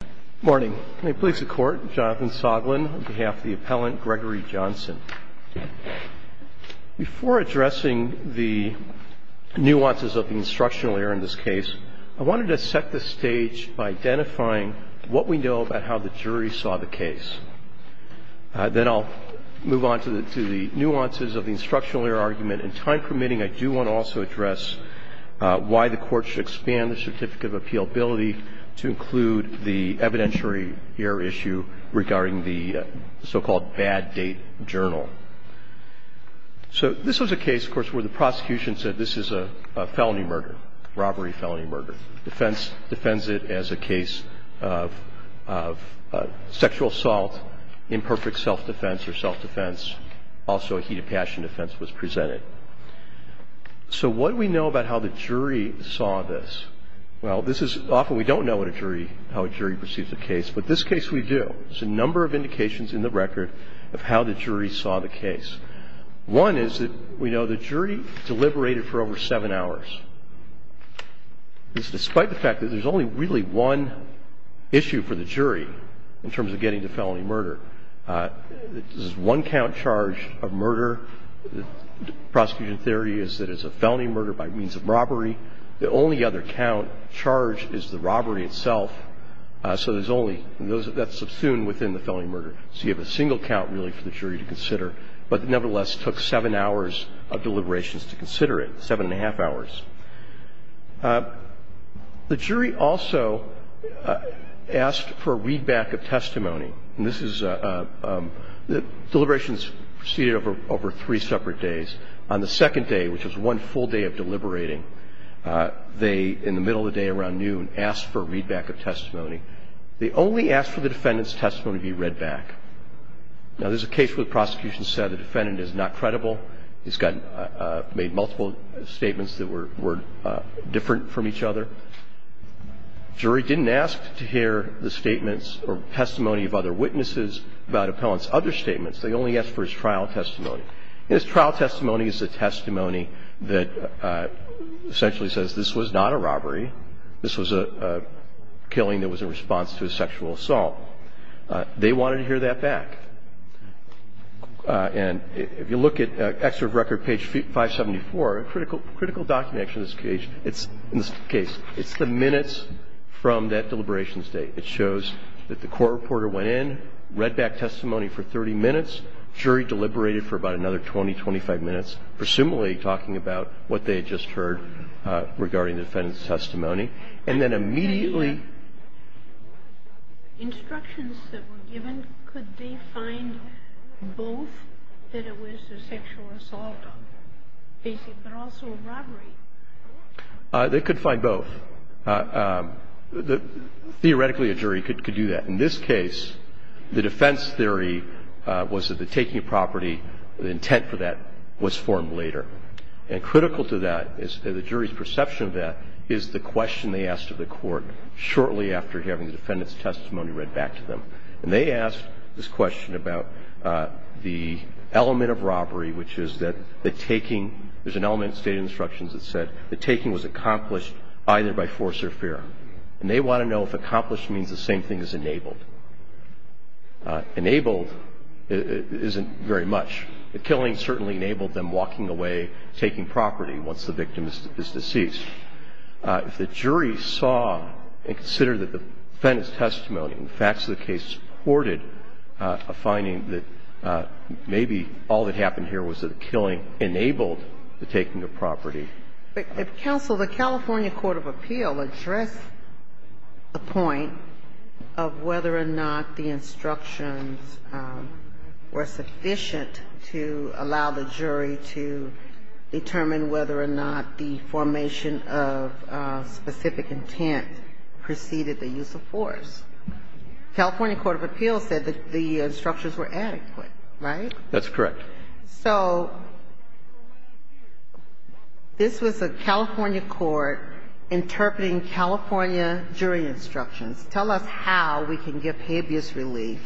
Good morning. May it please the court, Jonathan Soglin on behalf of the appellant Gregory Johnson. Before addressing the nuances of the instructional error in this case, I wanted to set the stage by identifying what we know about how the jury saw the case. Then I'll move on to the nuances of the instructional error argument. And time permitting, I do want to also address why the court should expand the certificate of appealability to include the evidentiary error issue regarding the so-called bad date journal. So this was a case, of course, where the prosecution said this is a felony murder, robbery, felony murder. Defense defends it as a case of sexual assault, imperfect self-defense or self-defense. Also a heat of passion defense was presented. So what do we know about how the jury saw this? Well, this is often we don't know what a jury, how a jury perceives a case. But this case we do. There's a number of indications in the record of how the jury saw the case. One is that we know the jury deliberated for over seven hours. This is despite the fact that there's only really one issue for the jury in terms of getting to felony murder. This is one count charge of murder. Prosecution theory is that it's a felony murder by means of robbery. The only other count charge is the robbery itself. So there's only – that's subsumed within the felony murder. So you have a single count really for the jury to consider. But nevertheless, it took seven hours of deliberations to consider it, seven and a half hours. The jury also asked for a readback of testimony. And this is – deliberations proceeded over three separate days. On the second day, which was one full day of deliberating, they, in the middle of the day around noon, asked for a readback of testimony. They only asked for the defendant's testimony to be read back. Now, there's a case where the prosecution said the defendant is not credible. He's made multiple statements that were different from each other. The jury didn't ask to hear the statements or testimony of other witnesses about appellant's other statements. They only asked for his trial testimony. And his trial testimony is a testimony that essentially says this was not a robbery. This was a killing that was in response to a sexual assault. They wanted to hear that back. And if you look at Excerpt Record, page 574, a critical – critical document in this case, it's the minutes from that deliberations date. It shows that the court reporter went in, read back testimony for 30 minutes, jury deliberated for about another 20, 25 minutes, presumably talking about what they had just heard regarding the defendant's testimony. And then immediately – They could find both. Theoretically, a jury could do that. In this case, the defense theory was that the taking of property, the intent for that was formed later. And critical to that is the jury's perception of that is the question they asked of the court shortly after having the defendant's testimony read back to them. And they asked this question about the element of robbery, which is that the taking – there's an element in the State of Instructions that said the taking was accomplished either by force or fear. And they want to know if accomplished means the same thing as enabled. Enabled isn't very much. The killing certainly enabled them walking away, taking property once the victim is deceased. If the jury saw and considered that the defendant's testimony and facts of the case supported a finding that maybe all that the taking of property. But, counsel, the California court of appeal addressed the point of whether or not the instructions were sufficient to allow the jury to determine whether or not the formation of specific intent preceded the use of force. California court of appeal said that the instructions were adequate, right? That's correct. So this was a California court interpreting California jury instructions. Tell us how we can give habeas relief,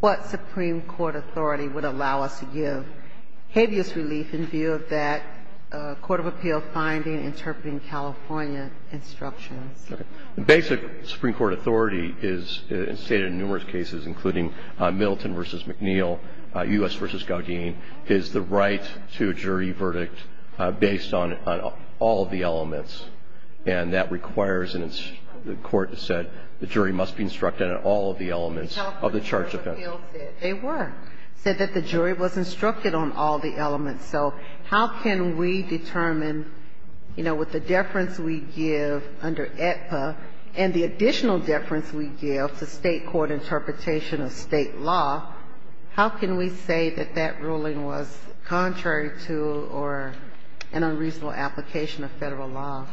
what supreme court authority would allow us to give habeas relief in view of that court of appeal finding interpreting California instructions. The basic supreme court authority is stated in numerous cases, including Milton v. McNeil, U.S. v. Gaudin, is the right to a jury verdict based on all of the elements. And that requires the court to set the jury must be instructed on all of the elements of the charge of offense. They were. Said that the jury was instructed on all the elements. So how can we determine, you know, with the deference we give under AEDPA and the additional deference we give to state court interpretation of state law, how can we say that that ruling was contrary to or an unreasonable application of Federal law?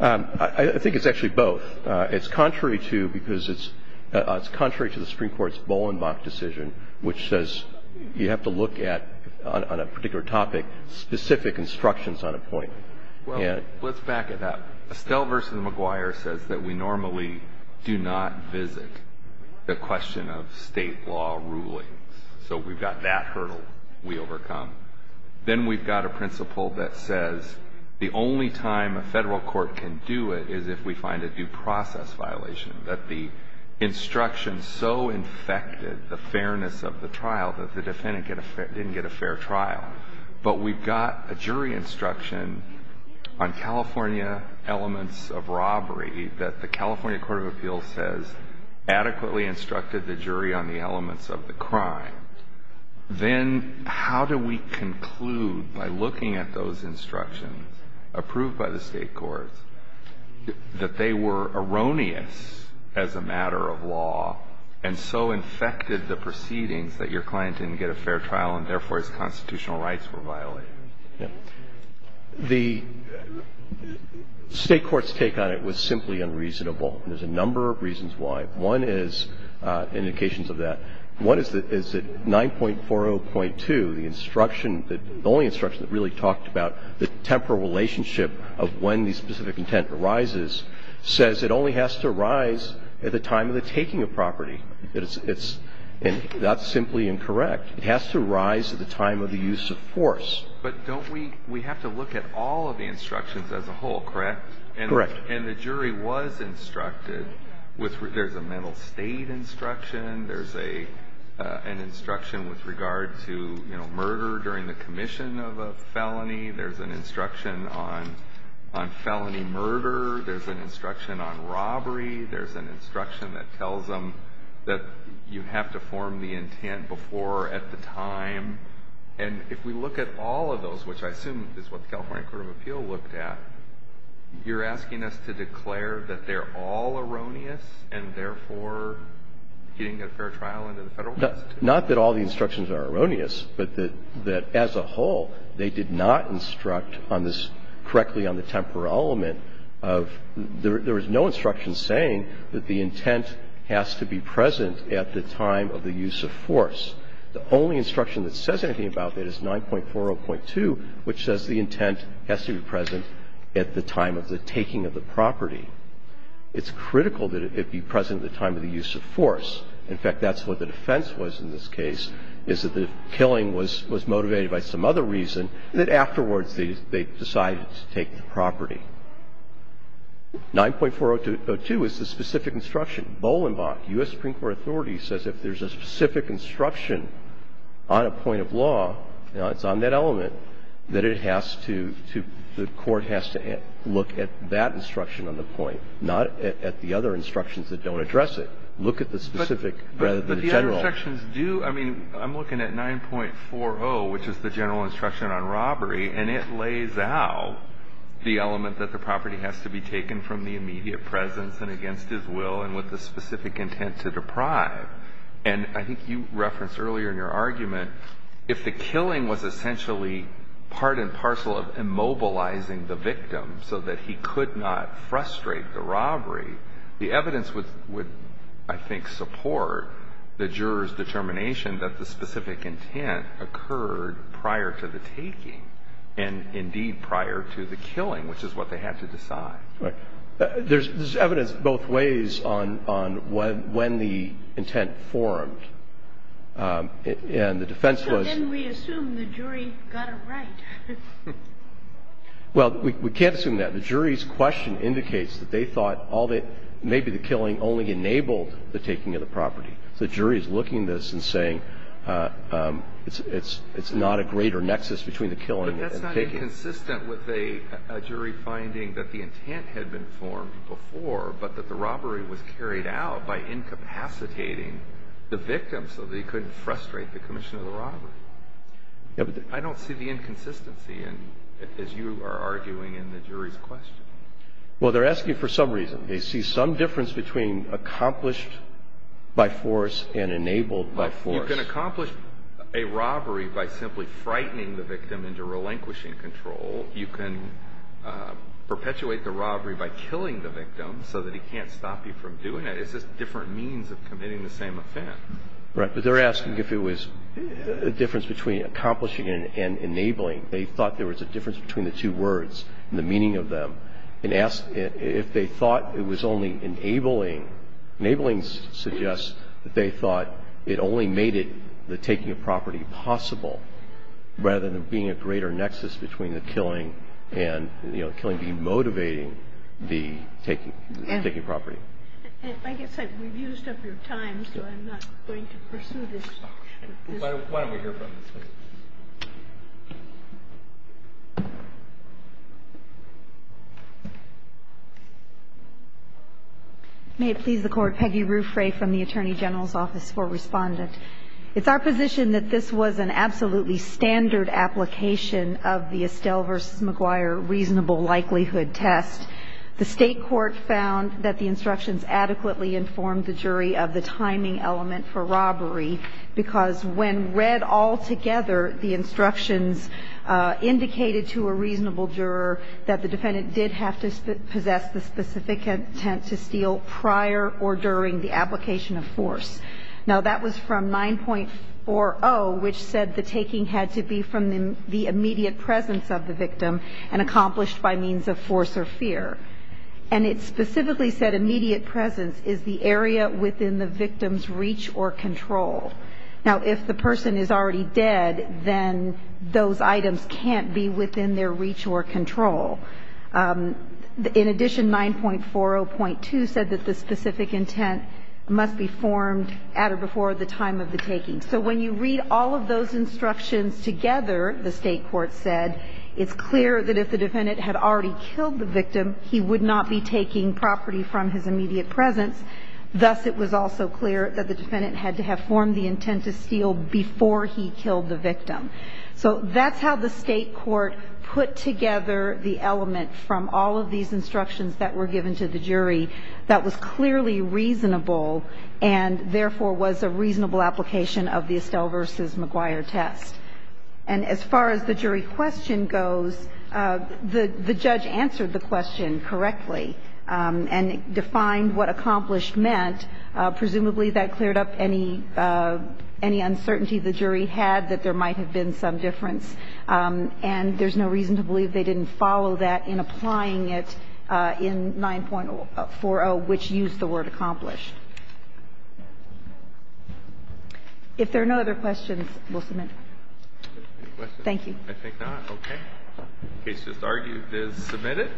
I think it's actually both. It's contrary to because it's contrary to the supreme court's Bolenbach decision, which says you have to look at, on a particular topic, specific instructions on a point. Well, let's back it up. Estelle v. McGuire says that we normally do not visit the question of state law rulings. So we've got that hurdle we overcome. Then we've got a principle that says the only time a Federal court can do it is if we find a due process violation, that the instruction so infected the fairness of the trial that the defendant didn't get a fair trial. But we've got a jury instruction on California elements of robbery that the California Court of Appeals says adequately instructed the jury on the elements of the crime. Then how do we conclude by looking at those instructions approved by the state courts that they were erroneous as a matter of law and so infected the proceedings that your client didn't get a fair trial and, therefore, his constitutional rights were violated? Yeah. The state court's take on it was simply unreasonable. There's a number of reasons why. One is indications of that. One is that 9.40.2, the instruction, the only instruction that really talked about the temporal relationship of when the specific intent arises, says it only has to arise at the time of the taking of property. It's not simply incorrect. It has to arise at the time of the use of force. But don't we we have to look at all of the instructions as a whole, correct? Correct. And the jury was instructed. There's a mental state instruction. There's an instruction with regard to murder during the commission of a felony. There's an instruction on felony murder. There's an instruction on robbery. There's an instruction that tells them that you have to form the intent before at the time. And if we look at all of those, which I assume is what the California Court of Appeal looked at, you're asking us to declare that they're all erroneous and, therefore, he didn't get a fair trial under the Federal Constitution? Not that all the instructions are erroneous, but that as a whole, they did not instruct on this correctly on the temporal element of there was no instruction saying that the intent has to be present at the time of the use of force. The only instruction that says anything about that is 9.40.2, which says the intent has to be present at the time of the taking of the property. It's critical that it be present at the time of the use of force. In fact, that's what the defense was in this case, is that the killing was motivated by some other reason that afterwards they decided to take the property. 9.40.2 is the specific instruction. Bolenbach, U.S. Supreme Court authority, says if there's a specific instruction on a point of law, you know, it's on that element, that it has to – the court has to look at that instruction on the point, not at the other instructions that don't address it. Look at the specific rather than the general. But the other instructions do – I mean, I'm looking at 9.40, which is the general element that the property has to be taken from the immediate presence and against his will and with the specific intent to deprive. And I think you referenced earlier in your argument, if the killing was essentially part and parcel of immobilizing the victim so that he could not frustrate the robbery, the evidence would, I think, support the juror's determination that the specific intent was what they had to decide. Right. There's evidence both ways on when the intent formed. And the defense was – So then we assume the jury got it right. Well, we can't assume that. The jury's question indicates that they thought all they – maybe the killing only enabled the taking of the property. The jury is looking at this and saying it's not a greater nexus between the killing and the taking. But it's not inconsistent with a jury finding that the intent had been formed before but that the robbery was carried out by incapacitating the victim so that he couldn't frustrate the commission of the robbery. I don't see the inconsistency in – as you are arguing in the jury's question. Well, they're asking for some reason. They see some difference between accomplished by force and enabled by force. Well, you can accomplish a robbery by simply frightening the victim into relinquishing control. You can perpetuate the robbery by killing the victim so that he can't stop you from doing it. It's just different means of committing the same offense. Right. But they're asking if it was a difference between accomplishing and enabling. They thought there was a difference between the two words and the meaning of them. And asked if they thought it was only enabling. Enabling suggests that they thought it only made the taking of property possible rather than being a greater nexus between the killing and, you know, the killing demotivating the taking of property. I guess we've used up your time, so I'm not going to pursue this. Why don't we hear from the plaintiffs? May it please the Court. Peggy Ruffray from the Attorney General's Office for Respondent. It's our position that this was an absolutely standard application of the Estelle v. McGuire reasonable likelihood test. The State Court found that the instructions adequately informed the jury of the timing element for robbery, because when read all together, the instructions indicated to a reasonable juror that the defendant did have to possess the specific intent to steal prior or during the application of force. Now, that was from 9.40, which said the taking had to be from the immediate presence of the victim and accomplished by means of force or fear. And it specifically said immediate presence is the area within the victim's reach or control. Now, if the person is already dead, then those items can't be within their reach or control. In addition, 9.40.2 said that the specific intent must be formed at or before the time of the taking. So when you read all of those instructions together, the State Court said, it's clear that if the defendant had already killed the victim, he would not be taking property from his immediate presence. Thus, it was also clear that the defendant had to have formed the intent to steal before he killed the victim. So that's how the State Court put together the element from all of these instructions that were given to the jury that was clearly reasonable and, therefore, was a reasonable application of the Estelle v. McGuire test. And as far as the jury question goes, the judge answered the question correctly and defined what accomplished meant. Presumably, that cleared up any uncertainty the jury had that there might have been some difference. And there's no reason to believe they didn't follow that in applying it in 9.40, which used the word accomplished. If there are no other questions, we'll submit. Thank you. I think not. Okay. The case is argued as submitted.